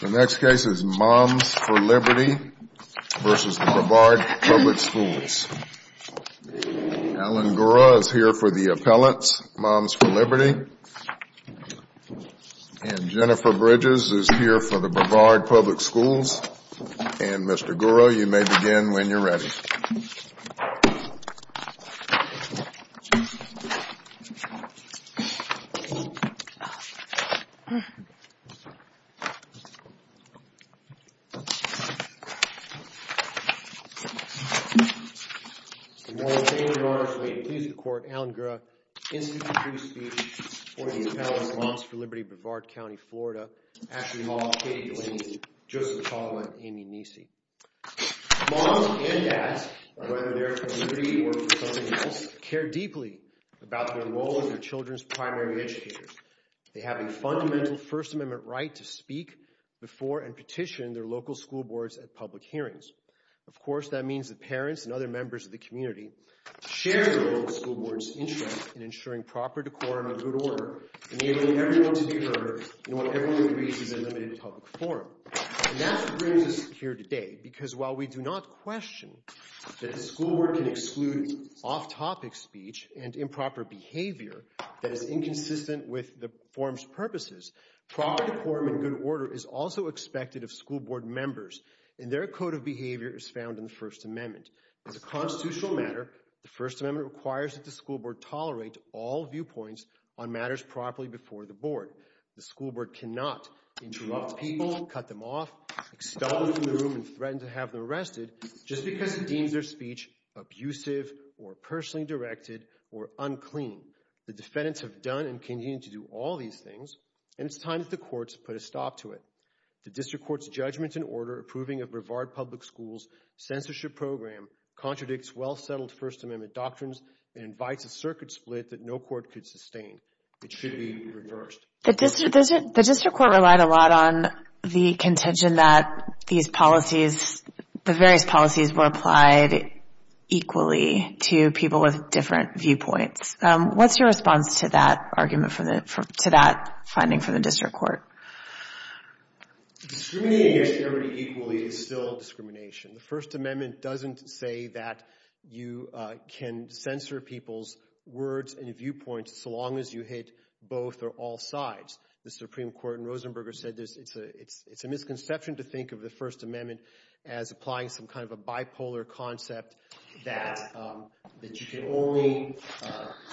The next case is Moms for Liberty v. Brevard Public Schools. Alan Gura is here for the appellants, Moms for Liberty. And Jennifer Bridges is here for the Brevard Public Schools. And Mr. Gura, you may begin when you're ready. The next case is Moms for Liberty v. Brevard Public Schools. Moms and dads, whether they're for liberty or for something else, care deeply about their role as their children's primary educators. They have a fundamental First Amendment right to speak before and petition their local school boards at public hearings. Of course, that means that parents and other members of the community share the school board's interest in ensuring proper decorum and good order, enabling everyone to be heard in what everyone agrees is a limited public forum. And that brings us here today, because while we do not question that the school board can exclude off-topic speech and improper behavior that is inconsistent with the forum's purposes, proper decorum and good order is also expected of school board members, and their code of behavior is found in the First Amendment. As a constitutional matter, the First Amendment requires that the school board tolerate all viewpoints on matters properly before the board. The school board cannot interrupt people, cut them off, extol them from the room, and threaten to have them arrested just because it deems their speech abusive or personally directed or unclean. The defendants have done and continue to do all these things, and it's time that the courts put a stop to it. The district court's judgment and order approving of Brevard Public Schools' censorship program contradicts well-settled First Amendment doctrines and invites a circuit split that no court could sustain. It should be reversed. The district court relied a lot on the contention that these policies, the various policies, were applied equally to people with different viewpoints. What's your response to that argument, to that finding from the district court? Discriminating against everybody equally is still discrimination. The First Amendment doesn't say that you can censor people's words and viewpoints so long as you hit both or all sides. The Supreme Court in Rosenberger said it's a misconception to think of the First Amendment as applying some kind of a bipolar concept that you can only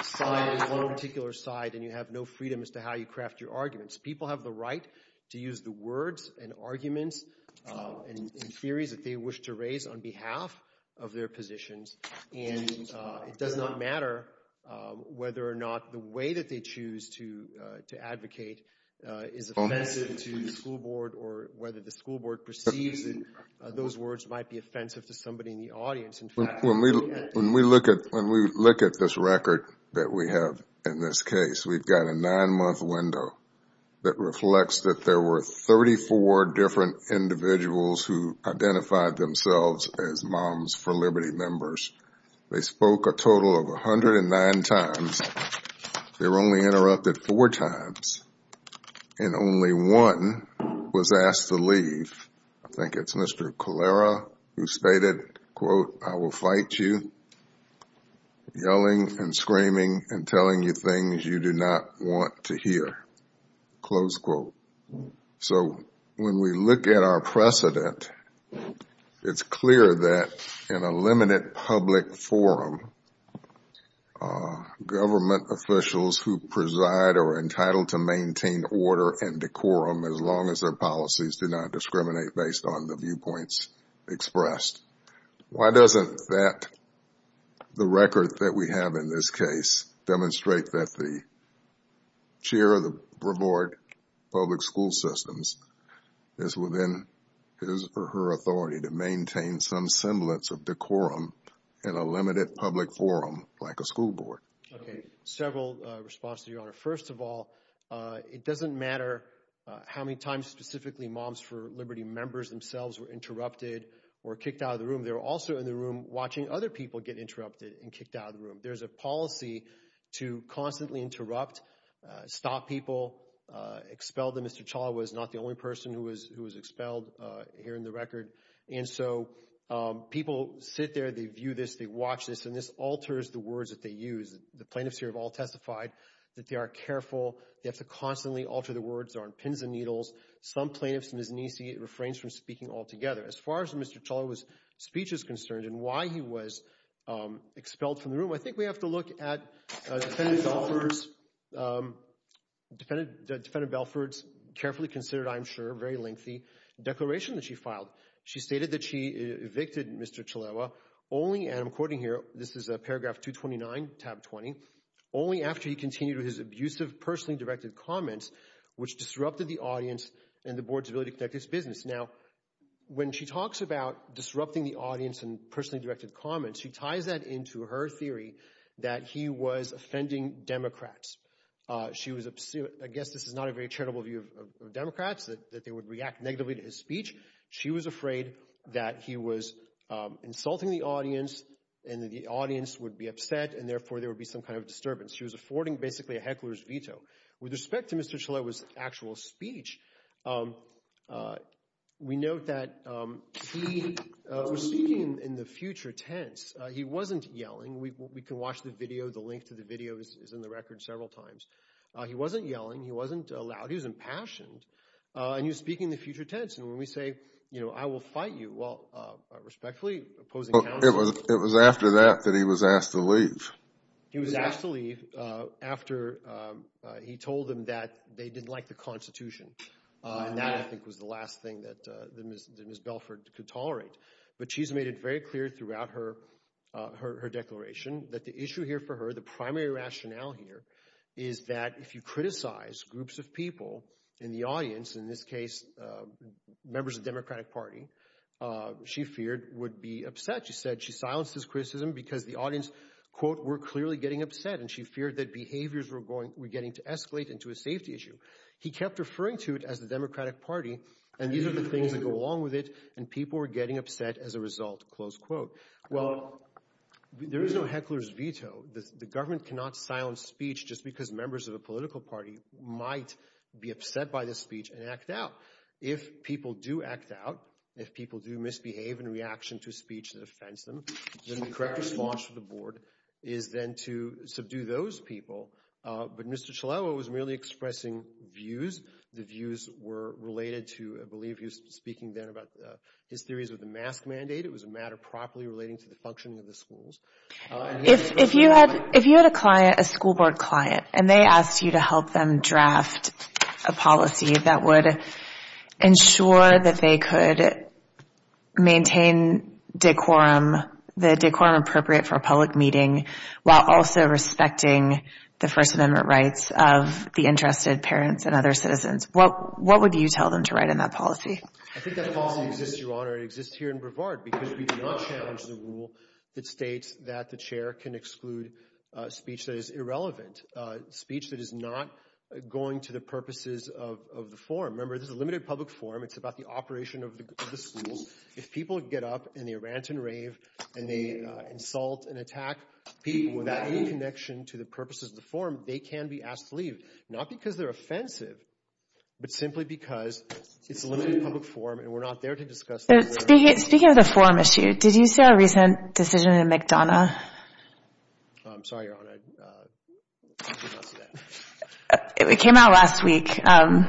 side with one particular side and you have no freedom as to how you craft your arguments. People have the right to use the words and arguments and theories that they wish to raise on behalf of their positions. And it does not matter whether or not the way that they choose to advocate is offensive to the school board or whether the school board perceives that those words might be offensive to somebody in the audience. When we look at this record that we have in this case, we've got a nine-month window that reflects that there were 34 different individuals who identified themselves as Moms for Liberty members. They spoke a total of 109 times. They were only interrupted four times. I think it's Mr. Colera who stated, quote, I will fight you, yelling and screaming and telling you things you do not want to hear. Close quote. So when we look at our precedent, it's clear that in a limited public forum, government officials who preside are entitled to maintain order and decorum as long as their policies do not discriminate based on the viewpoints expressed. Why doesn't that, the record that we have in this case, demonstrate that the chair of the Board of Public School Systems is within his or her authority to maintain some semblance of decorum in a limited public forum like a school board? Okay, several responses, Your Honor. First of all, it doesn't matter how many times specifically Moms for Liberty members themselves were interrupted or kicked out of the room. They were also in the room watching other people get interrupted and kicked out of the room. There's a policy to constantly interrupt, stop people, expel them. Mr. Chawla was not the only person who was expelled here in the record. And so people sit there, they view this, they watch this, and this alters the words that they use. The plaintiffs here have all testified that they are careful. They have to constantly alter the words on pins and needles. Some plaintiffs, Ms. Niecy, refrains from speaking altogether. As far as Mr. Chawla's speech is concerned and why he was expelled from the room, I think we have to look at Defendant Belford's carefully considered, I'm sure, very lengthy declaration that she filed. She stated that she evicted Mr. Chawla only, and I'm quoting here, this is paragraph 229, tab 20, only after he continued with his abusive, personally directed comments, which disrupted the audience and the board's ability to conduct its business. Now, when she talks about disrupting the audience and personally directed comments, she ties that into her theory that he was offending Democrats. She was, I guess this is not a very charitable view of Democrats, that they would react negatively to his speech. She was afraid that he was insulting the audience and that the audience would be upset and therefore there would be some kind of disturbance. She was affording basically a heckler's veto. With respect to Mr. Chawla's actual speech, we note that he was speaking in the future tense. He wasn't yelling. We can watch the video. The link to the video is in the record several times. He wasn't yelling. He wasn't loud. He was impassioned. And he was speaking in the future tense. And when we say, you know, I will fight you, well, respectfully, opposing counsel. It was after that that he was asked to leave. He was asked to leave after he told them that they didn't like the Constitution. And that, I think, was the last thing that Ms. Belford could tolerate. But she's made it very clear throughout her declaration that the issue here for her, the primary rationale here, is that if you criticize groups of people in the audience, in this case members of the Democratic Party, she feared would be upset. She said she silenced his criticism because the audience, quote, were clearly getting upset and she feared that behaviors were getting to escalate into a safety issue. He kept referring to it as the Democratic Party, and these are the things that go along with it, and people were getting upset as a result, close quote. Well, there is no heckler's veto. The government cannot silence speech just because members of a political party might be upset by this speech and act out. If people do act out, if people do misbehave in reaction to speech that offends them, then the correct response from the board is then to subdue those people. But Mr. Chalewa was merely expressing views. The views were related to, I believe, he was speaking then about his theories of the mask mandate. It was a matter properly relating to the functioning of the schools. If you had a client, a school board client, and they asked you to help them draft a policy that would ensure that they could maintain decorum, the decorum appropriate for a public meeting, while also respecting the First Amendment rights of the interested parents and other citizens, what would you tell them to write in that policy? I think that policy exists, Your Honor. It exists here in Brevard because we do not challenge the rule that states that the chair can exclude speech that is irrelevant, speech that is not going to the purposes of the forum. Remember, this is a limited public forum. It's about the operation of the schools. If people get up and they rant and rave and they insult and attack people without any connection to the purposes of the forum, they can be asked to leave, not because they're offensive, but simply because it's a limited public forum and we're not there to discuss this. Speaking of the forum issue, did you see our recent decision in McDonough? I'm sorry, Your Honor. It came out last week. I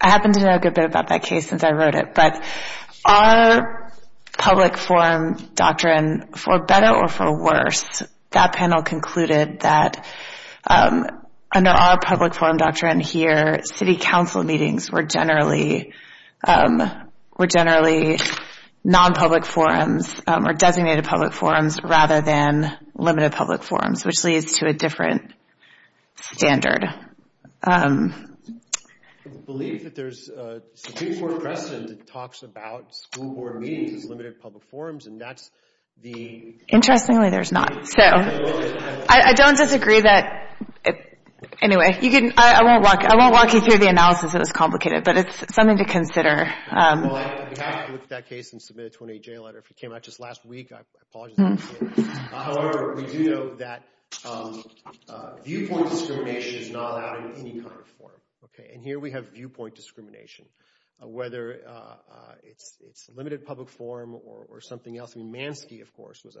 happen to know a good bit about that case since I wrote it, but our public forum doctrine, for better or for worse, that panel concluded that under our public forum doctrine here, city council meetings were generally non-public forums or designated public forums rather than limited public forums, which leads to a different standard. I believe that there's a Supreme Court precedent that talks about school board meetings as limited public forums, and that's the— Interestingly, there's not. I don't disagree that—anyway, I won't walk you through the analysis. It was complicated, but it's something to consider. Well, I have to look at that case and submit a 28-J letter. If it came out just last week, I apologize. However, we do know that viewpoint discrimination is not allowed in any kind of forum. And here we have viewpoint discrimination, whether it's limited public forum or something else. I mean, Mansky, of course, was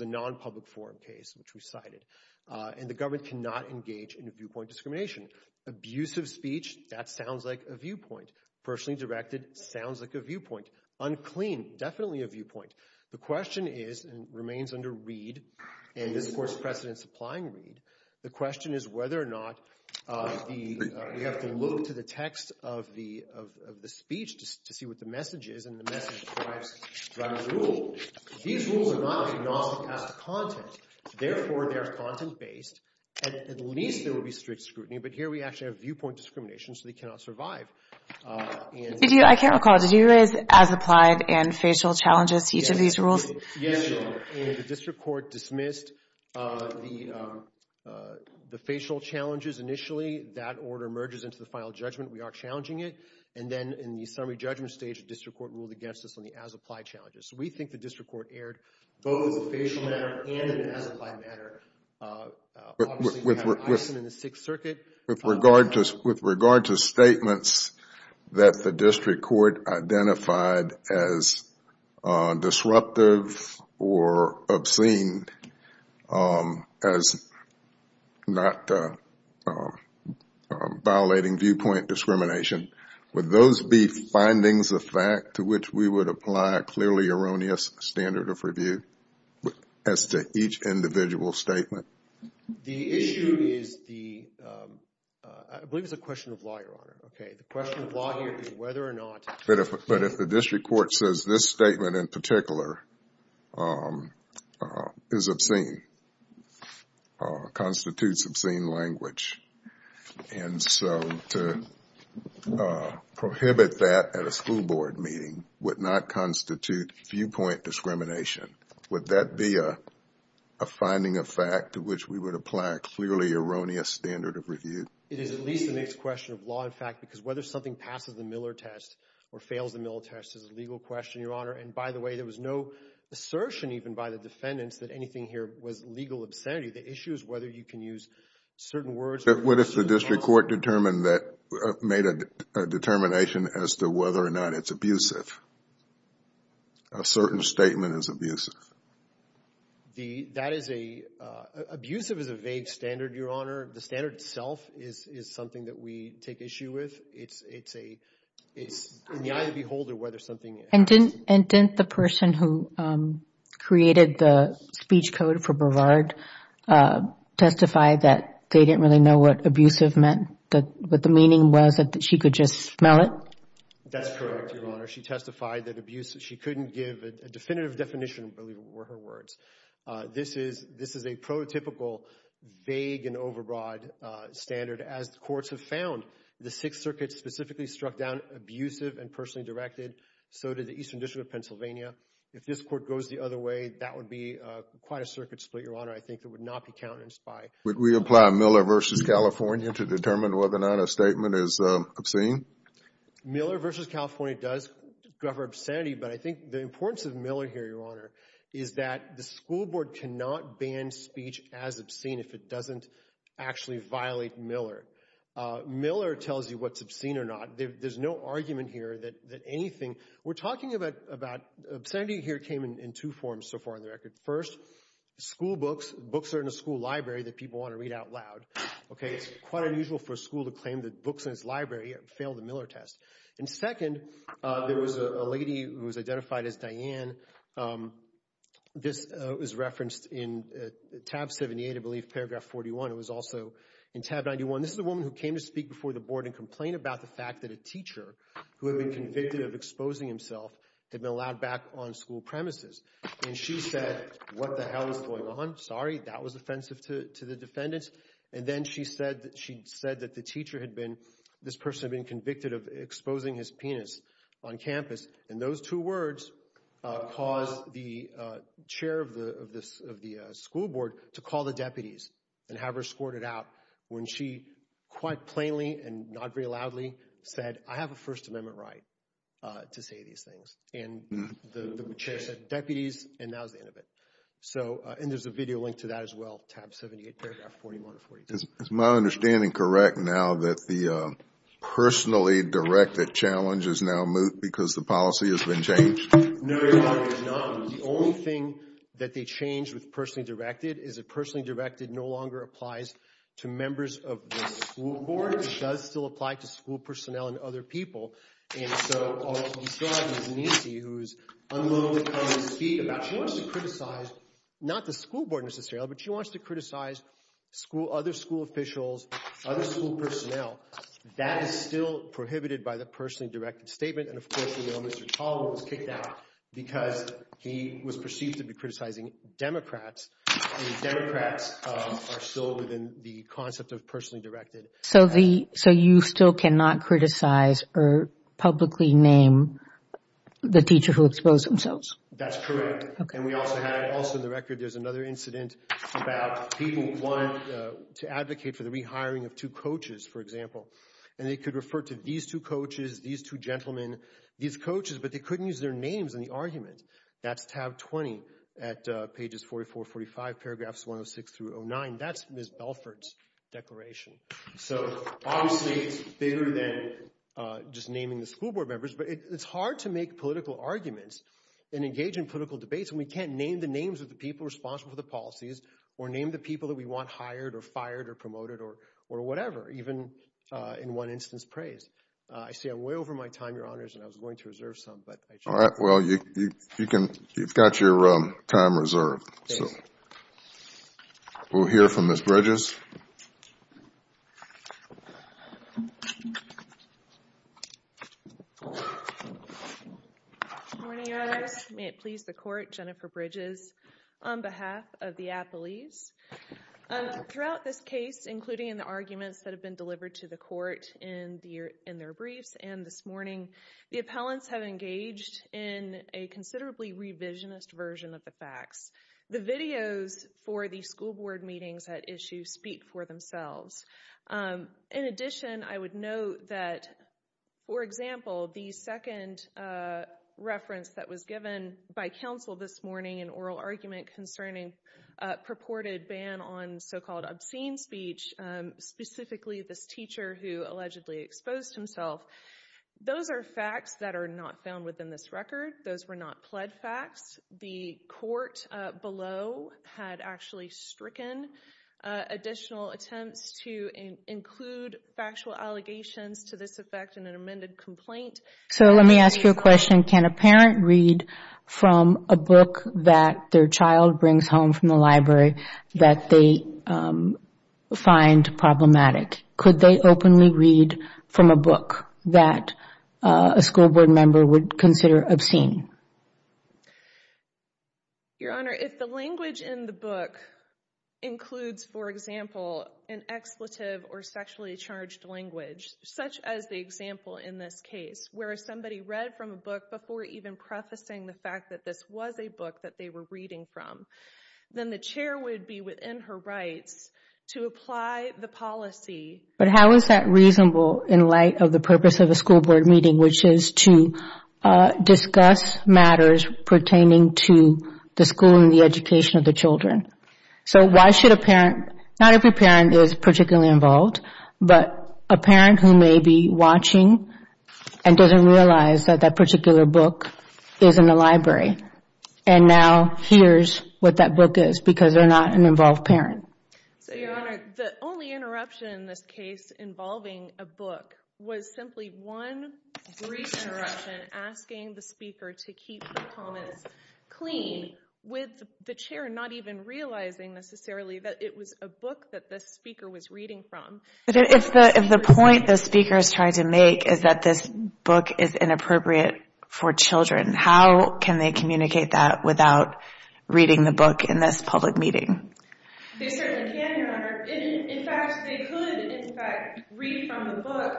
a non-public forum case, which we cited. And the government cannot engage in viewpoint discrimination. Abusive speech, that sounds like a viewpoint. Personally directed, sounds like a viewpoint. Unclean, definitely a viewpoint. The question is, and remains under Reed, and this, of course, precedents applying Reed, the question is whether or not the—we have to look to the text of the speech to see what the message is, and the message derives from the rule. These rules are not agnostic as to content. Therefore, they are content-based, and at least there will be strict scrutiny. But here we actually have viewpoint discrimination, so they cannot survive. I can't recall. Did you raise as applied and facial challenges to each of these rules? Yes, you did. The district court dismissed the facial challenges initially. That order merges into the final judgment. We are challenging it. And then in the summary judgment stage, the district court ruled against us on the as-applied challenges. We think the district court erred both as a facial matter and an as-applied matter. Obviously, we have an item in the Sixth Circuit. With regard to statements that the district court identified as disruptive or obscene as not violating viewpoint discrimination, would those be findings of fact to which we would apply a clearly erroneous standard of review as to each individual statement? The issue is the—I believe it's a question of law, Your Honor. Okay. The question of law here is whether or not— But if the district court says this statement in particular is obscene, constitutes obscene language, and so to prohibit that at a school board meeting would not constitute viewpoint discrimination. Would that be a finding of fact to which we would apply a clearly erroneous standard of review? It is at least the next question of law, in fact, because whether something passes the Miller test or fails the Miller test is a legal question, Your Honor. And by the way, there was no assertion even by the defendants that anything here was legal obscenity. The issue is whether you can use certain words— But what if the district court determined that—made a determination as to whether or not it's abusive? A certain statement is abusive. That is a—abusive is a vague standard, Your Honor. The standard itself is something that we take issue with. It's in the eye of the beholder whether something— And didn't the person who created the speech code for Brevard testify that they didn't really know what abusive meant, what the meaning was, that she could just smell it? That's correct, Your Honor. She testified that abusive—she couldn't give a definitive definition, believe it were, of her words. This is a prototypical vague and overbroad standard. As the courts have found, the Sixth Circuit specifically struck down abusive and personally directed. So did the Eastern District of Pennsylvania. If this court goes the other way, that would be quite a circuit split, Your Honor, I think, that would not be countenanced by— Would we apply Miller v. California to determine whether or not a statement is obscene? Miller v. California does cover obscenity, but I think the importance of Miller here, Your Honor, is that the school board cannot ban speech as obscene if it doesn't actually violate Miller. Miller tells you what's obscene or not. There's no argument here that anything— We're talking about—obscenity here came in two forms so far on the record. First, school books. Books are in a school library that people want to read out loud. It's quite unusual for a school to claim that books in its library failed the Miller test. Second, there was a lady who was identified as Diane. This was referenced in tab 78, I believe, paragraph 41. It was also in tab 91. This is a woman who came to speak before the board and complained about the fact that a teacher who had been convicted of exposing himself had been allowed back on school premises. She said, what the hell is going on? Sorry, that was offensive to the defendants. And then she said that the teacher had been— this person had been convicted of exposing his penis on campus. And those two words caused the chair of the school board to call the deputies and have her squirt it out when she quite plainly and not very loudly said, I have a First Amendment right to say these things. And the chair said, deputies, and that was the end of it. And there's a video link to that as well, tab 78, paragraph 41 or 42. Is my understanding correct now that the personally directed challenge is now moot because the policy has been changed? No, Your Honor, it is not. The only thing that they changed with personally directed is that personally directed no longer applies to members of the school board. It does still apply to school personnel and other people. And so all that's described is Nancy, who's unwilling to come and speak about— she wants to criticize not the school board necessarily, but she wants to criticize other school officials, other school personnel. That is still prohibited by the personally directed statement. And of course, you know, Mr. Toliver was kicked out because he was perceived to be criticizing Democrats, and Democrats are still within the concept of personally directed. So you still cannot criticize or publicly name the teacher who exposed themselves? That's correct. And we also have—also in the record there's another incident about people who want to advocate for the rehiring of two coaches, for example. And they could refer to these two coaches, these two gentlemen, these coaches, but they couldn't use their names in the argument. That's tab 20 at pages 44, 45, paragraphs 106 through 09. That's Ms. Belfort's declaration. So obviously it's bigger than just naming the school board members, but it's hard to make political arguments and engage in political debates when we can't name the names of the people responsible for the policies or name the people that we want hired or fired or promoted or whatever, even in one instance praised. I see I'm way over my time, Your Honors, and I was going to reserve some, but— All right, well, you've got your time reserved. We'll hear from Ms. Bridges. Good morning, Your Honors. May it please the Court, Jennifer Bridges on behalf of the athletes. Throughout this case, including in the arguments that have been delivered to the court in their briefs and this morning, the appellants have engaged in a considerably revisionist version of the facts. The videos for the school board meetings at issue speak for themselves. In addition, I would note that, for example, the second reference that was given by counsel this morning, an oral argument concerning a purported ban on so-called obscene speech, specifically this teacher who allegedly exposed himself, those are facts that are not found within this record. Those were not pled facts. The court below had actually stricken additional attempts to include factual allegations to this effect in an amended complaint. So let me ask you a question. Can a parent read from a book that their child brings home from the library that they find problematic? Could they openly read from a book that a school board member would consider obscene? Your Honor, if the language in the book includes, for example, an expletive or sexually charged language, such as the example in this case, where somebody read from a book before even prefacing the fact that this was a book that they were reading from, then the chair would be within her rights to apply the policy. But how is that reasonable in light of the purpose of a school board meeting, which is to discuss matters pertaining to the school and the education of the children? So why should a parent, not every parent is particularly involved, but a parent who may be watching and doesn't realize that that particular book is in the library and now hears what that book is because they're not an involved parent? So, Your Honor, the only interruption in this case involving a book was simply one brief interruption asking the speaker to keep the comments clean with the chair not even realizing necessarily that it was a book that the speaker was reading from. But if the point the speaker is trying to make is that this book is inappropriate for children, how can they communicate that without reading the book in this public meeting? They certainly can, Your Honor. In fact, they could, in fact, read from the book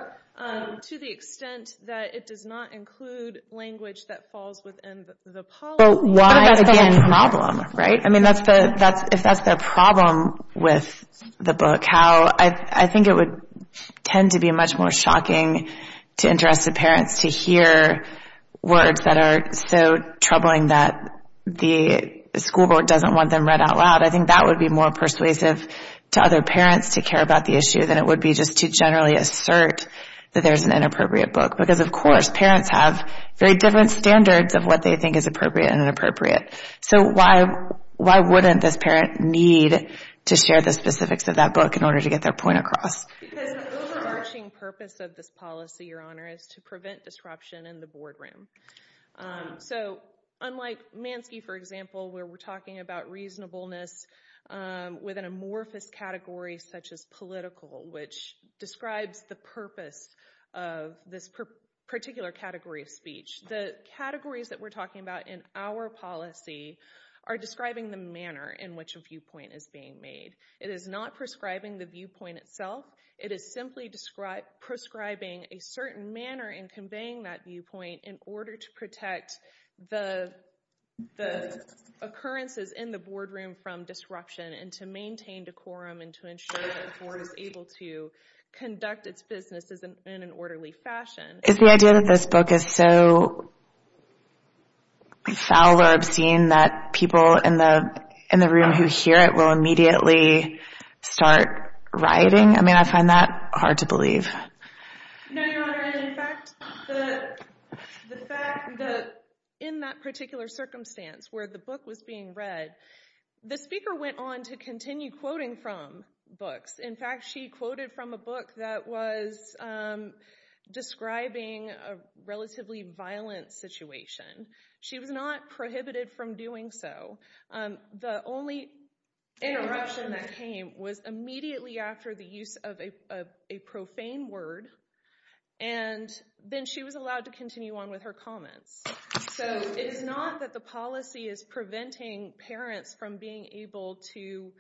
to the extent that it does not include language that falls within the policy. But why is that a problem, right? I mean, if that's the problem with the book, I think it would tend to be much more shocking to interested parents to hear words that are so troubling that the school board doesn't want them read out loud. I think that would be more persuasive to other parents to care about the issue than it would be just to generally assert that there's an inappropriate book because, of course, parents have very different standards of what they think is appropriate and inappropriate. So why wouldn't this parent need to share the specifics of that book in order to get their point across? Because the overarching purpose of this policy, Your Honor, is to prevent disruption in the boardroom. So unlike Mansky, for example, where we're talking about reasonableness with an amorphous category such as political, which describes the purpose of this particular category of speech, the categories that we're talking about in our policy are describing the manner in which a viewpoint is being made. It is not prescribing the viewpoint itself. It is simply prescribing a certain manner in conveying that viewpoint in order to protect the occurrences in the boardroom from disruption and to maintain decorum and to ensure that the board is able to conduct its business in an orderly fashion. Does that mean that people in the room who hear it will immediately start rioting? I mean, I find that hard to believe. No, Your Honor. In fact, the fact that in that particular circumstance where the book was being read, the speaker went on to continue quoting from books. In fact, she quoted from a book that was describing a relatively violent situation. She was not prohibited from doing so. The only interruption that came was immediately after the use of a profane word, and then she was allowed to continue on with her comments. So it is not that the policy is preventing parents from being able to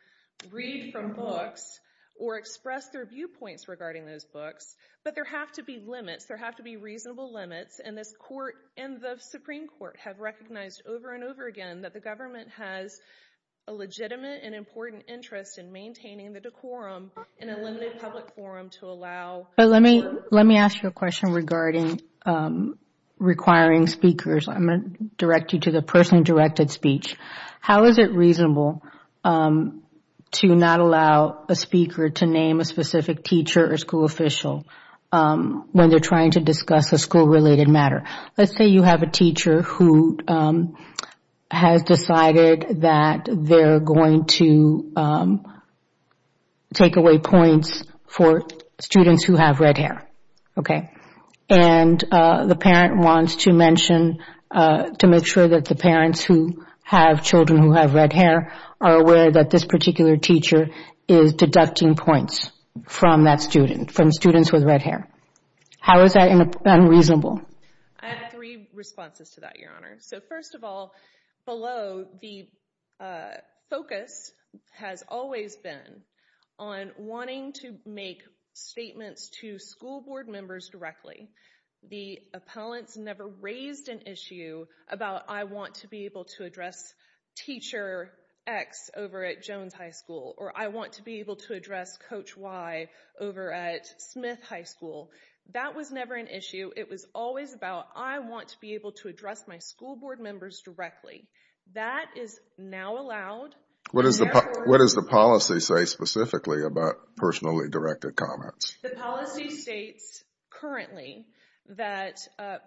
read from books or express their viewpoints regarding those books, but there have to be limits. There have to be reasonable limits, and this Court and the Supreme Court have recognized over and over again that the government has a legitimate and important interest in maintaining the decorum in a limited public forum to allow. Let me ask you a question regarding requiring speakers. I'm going to direct you to the personally directed speech. How is it reasonable to not allow a speaker to name a specific teacher or school official when they are trying to discuss a school-related matter? Let's say you have a teacher who has decided that they are going to take away points for students who have red hair, and the parent wants to make sure that the parents who have children who have red hair are aware that this particular teacher is deducting points from that student, from students with red hair. How is that unreasonable? I have three responses to that, Your Honor. So first of all, below the focus has always been on wanting to make statements to school board members directly. The appellants never raised an issue about, I want to be able to address Teacher X over at Jones High School, or I want to be able to address Coach Y over at Smith High School. That was never an issue. It was always about, I want to be able to address my school board members directly. That is now allowed. What does the policy say specifically about personally directed comments? The policy states currently that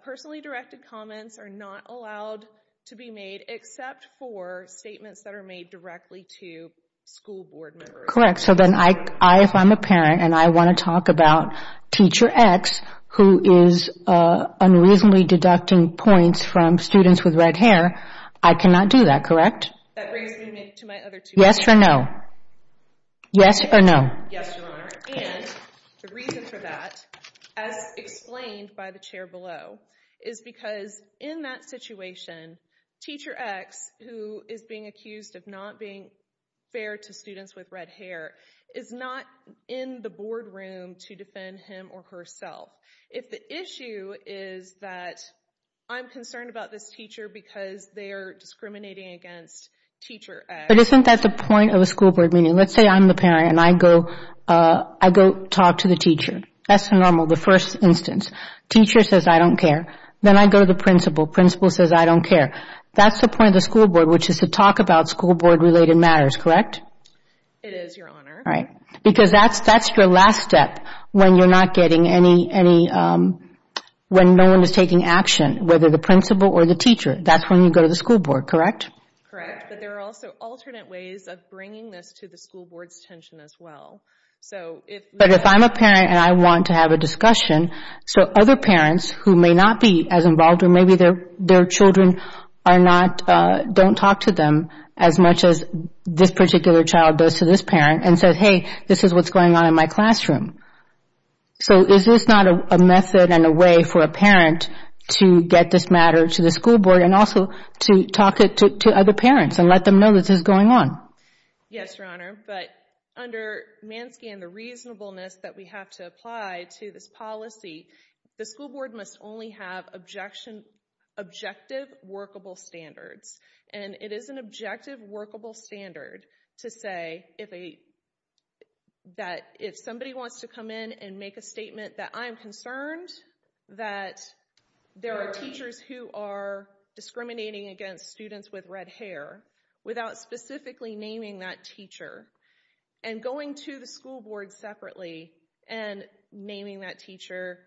personally directed comments are not allowed to be made except for statements that are made directly to school board members. Correct. So then if I'm a parent and I want to talk about Teacher X, who is unreasonably deducting points from students with red hair, I cannot do that, correct? That brings me to my other two questions. Yes or no? Yes or no? Yes, Your Honor. And the reason for that, as explained by the chair below, is because in that situation Teacher X, who is being accused of not being fair to students with red hair, is not in the boardroom to defend him or herself. If the issue is that I'm concerned about this teacher because they are discriminating against Teacher X. But isn't that the point of a school board meeting? Let's say I'm the parent and I go talk to the teacher. That's normal, the first instance. Teacher says, I don't care. Then I go to the principal. Principal says, I don't care. That's the point of the school board, which is to talk about school board-related matters, correct? It is, Your Honor. All right. Because that's your last step when no one is taking action, whether the principal or the teacher. That's when you go to the school board, correct? Correct. But there are also alternate ways of bringing this to the school board's attention as well. But if I'm a parent and I want to have a discussion, so other parents who may not be as involved, or maybe their children don't talk to them as much as this particular child does to this parent, and said, hey, this is what's going on in my classroom. So is this not a method and a way for a parent to get this matter to the school board and also to talk it to other parents and let them know that this is going on? Yes, Your Honor. But under MANSCAN, the reasonableness that we have to apply to this policy, the school board must only have objective workable standards. And it is an objective workable standard to say that if somebody wants to come in and make a statement that I'm concerned that there are teachers who are discriminating against students with red hair without specifically naming that teacher, and going to the school board separately and naming that teacher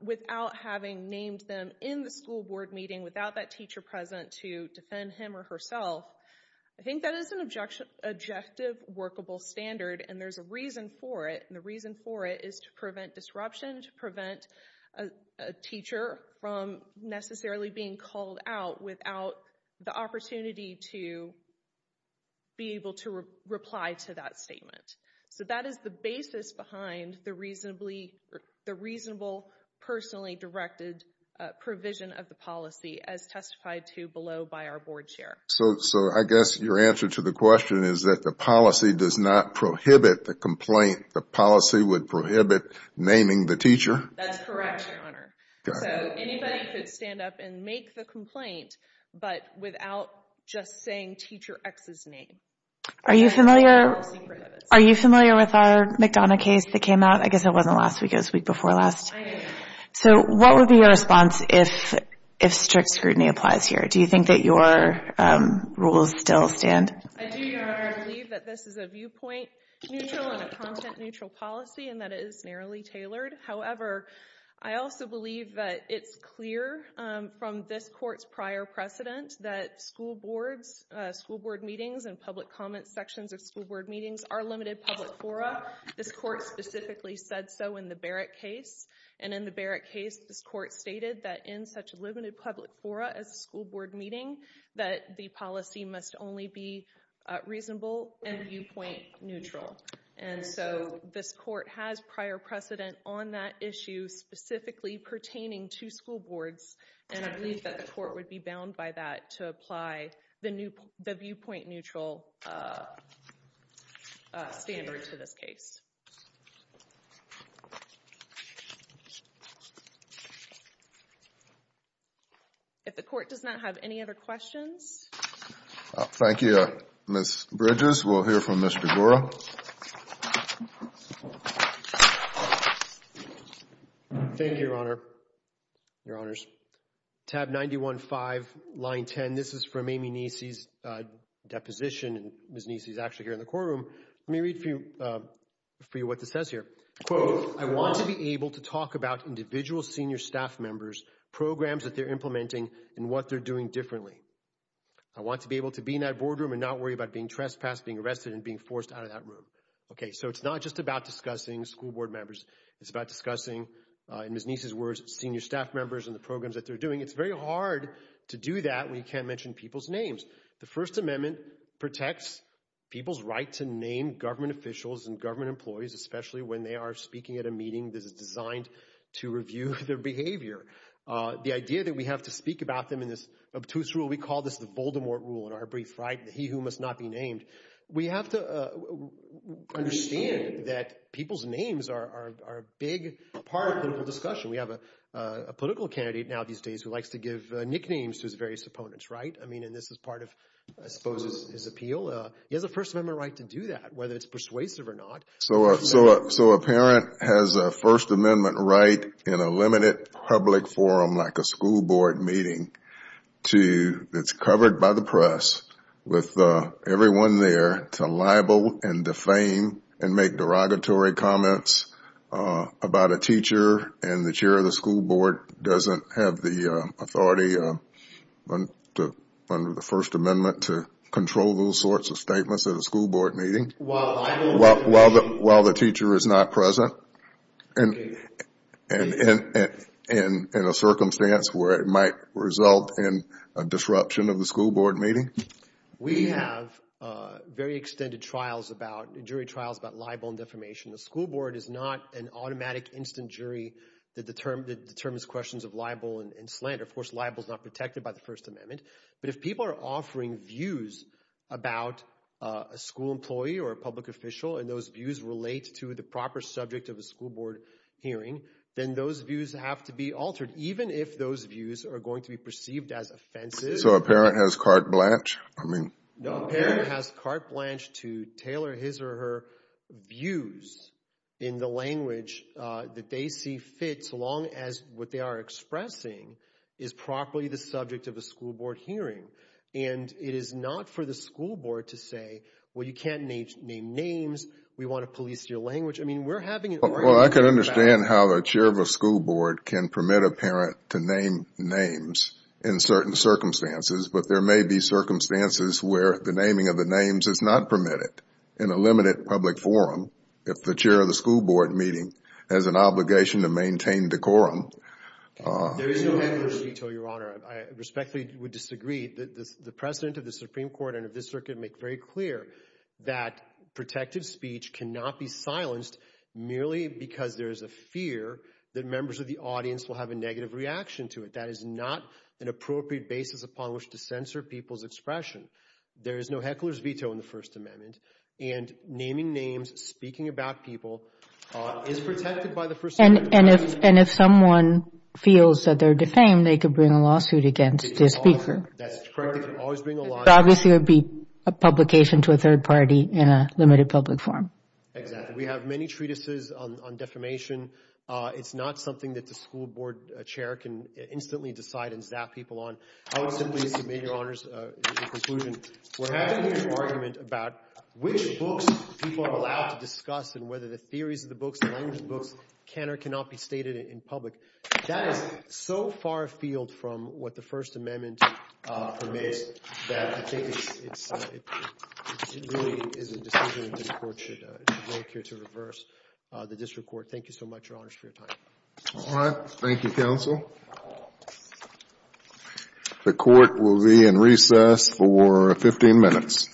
without having named them in the school board meeting, without that teacher present to defend him or herself, I think that is an objective workable standard. And there's a reason for it. And the reason for it is to prevent disruption, to prevent a teacher from necessarily being called out without the opportunity to be able to reply to that statement. So that is the basis behind the reasonable, personally directed provision of the policy as testified to below by our board chair. So I guess your answer to the question is that the policy does not prohibit the complaint. The policy would prohibit naming the teacher? That's correct, Your Honor. So anybody could stand up and make the complaint, but without just saying Teacher X's name. Are you familiar with our McDonough case that came out? I guess it wasn't last week, it was the week before last. So what would be your response if strict scrutiny applies here? Do you think that your rules still stand? I do, Your Honor. I believe that this is a viewpoint-neutral and a content-neutral policy and that it is narrowly tailored. However, I also believe that it's clear from this court's prior precedent that school board meetings and public comment sections of school board meetings are limited public fora. This court specifically said so in the Barrett case. And in the Barrett case, this court stated that in such a limited public fora as a school board meeting, that the policy must only be reasonable and viewpoint-neutral. And so this court has prior precedent on that issue specifically pertaining to school boards, and I believe that the court would be bound by that to apply the viewpoint-neutral standard to this case. The court does not have any other questions. Thank you, Ms. Bridges. We'll hear from Mr. Gura. Thank you, Your Honor, Your Honors. Tab 91-5, line 10, this is from Amy Neesey's deposition, and Ms. Neesey is actually here in the courtroom. Let me read for you what this says here. Quote, I want to be able to talk about individual senior staff members, programs that they're implementing, and what they're doing differently. I want to be able to be in that boardroom and not worry about being trespassed, being arrested, and being forced out of that room. Okay, so it's not just about discussing school board members. It's about discussing, in Ms. Neesey's words, senior staff members and the programs that they're doing. It's very hard to do that when you can't mention people's names. The First Amendment protects people's right to name government officials and government employees, especially when they are speaking at a meeting that is designed to review their behavior. The idea that we have to speak about them in this obtuse rule, we call this the Voldemort Rule in our brief, right, the he who must not be named. We have to understand that people's names are a big part of the discussion. We have a political candidate now these days who likes to give nicknames to his various opponents, right? I mean, and this is part of, I suppose, his appeal. He has a First Amendment right to do that, whether it's persuasive or not. So a parent has a First Amendment right in a limited public forum like a school board meeting that's covered by the press with everyone there to libel and defame and make derogatory comments about a teacher and the chair of the school board doesn't have the authority under the First Amendment to control those sorts of statements at a school board meeting? While the teacher is not present in a circumstance where it might result in a disruption of the school board meeting? We have very extended jury trials about libel and defamation. The school board is not an automatic instant jury that determines questions of libel and slander. Of course, libel is not protected by the First Amendment. But if people are offering views about a school employee or a public official and those views relate to the proper subject of a school board hearing, then those views have to be altered even if those views are going to be perceived as offenses. So a parent has carte blanche? No, a parent has carte blanche to tailor his or her views in the language that they see fit so long as what they are expressing is properly the subject of a school board hearing. And it is not for the school board to say, well, you can't name names. We want to police your language. I mean, we're having an argument about it. Well, I can understand how the chair of a school board can permit a parent to name names in certain circumstances. But there may be circumstances where the naming of the names is not permitted in a limited public forum if the chair of the school board meeting has an obligation to maintain decorum. There is no heckler's veto, Your Honor. I respectfully would disagree. The President of the Supreme Court and of this Circuit make very clear that protected speech cannot be silenced merely because there is a fear that members of the audience will have a negative reaction to it. That is not an appropriate basis upon which to censor people's expression. There is no heckler's veto in the First Amendment, and naming names, speaking about people is protected by the First Amendment. And if someone feels that they're defamed, they could bring a lawsuit against the speaker. That's correct. They could always bring a lawsuit. Obviously, it would be a publication to a third party in a limited public forum. Exactly. We have many treatises on defamation. It's not something that the school board chair can instantly decide and zap people on. I would simply submit, Your Honors, the conclusion. We're having an argument about which books people are allowed to discuss and whether the theories of the books, the language of the books, can or cannot be stated in public. That is so far afield from what the First Amendment permits that I think it really is a decision that the court should make here to reverse the district court. Thank you so much, Your Honors, for your time. All right. Thank you, counsel. The court will be in recess for 15 minutes. All rise.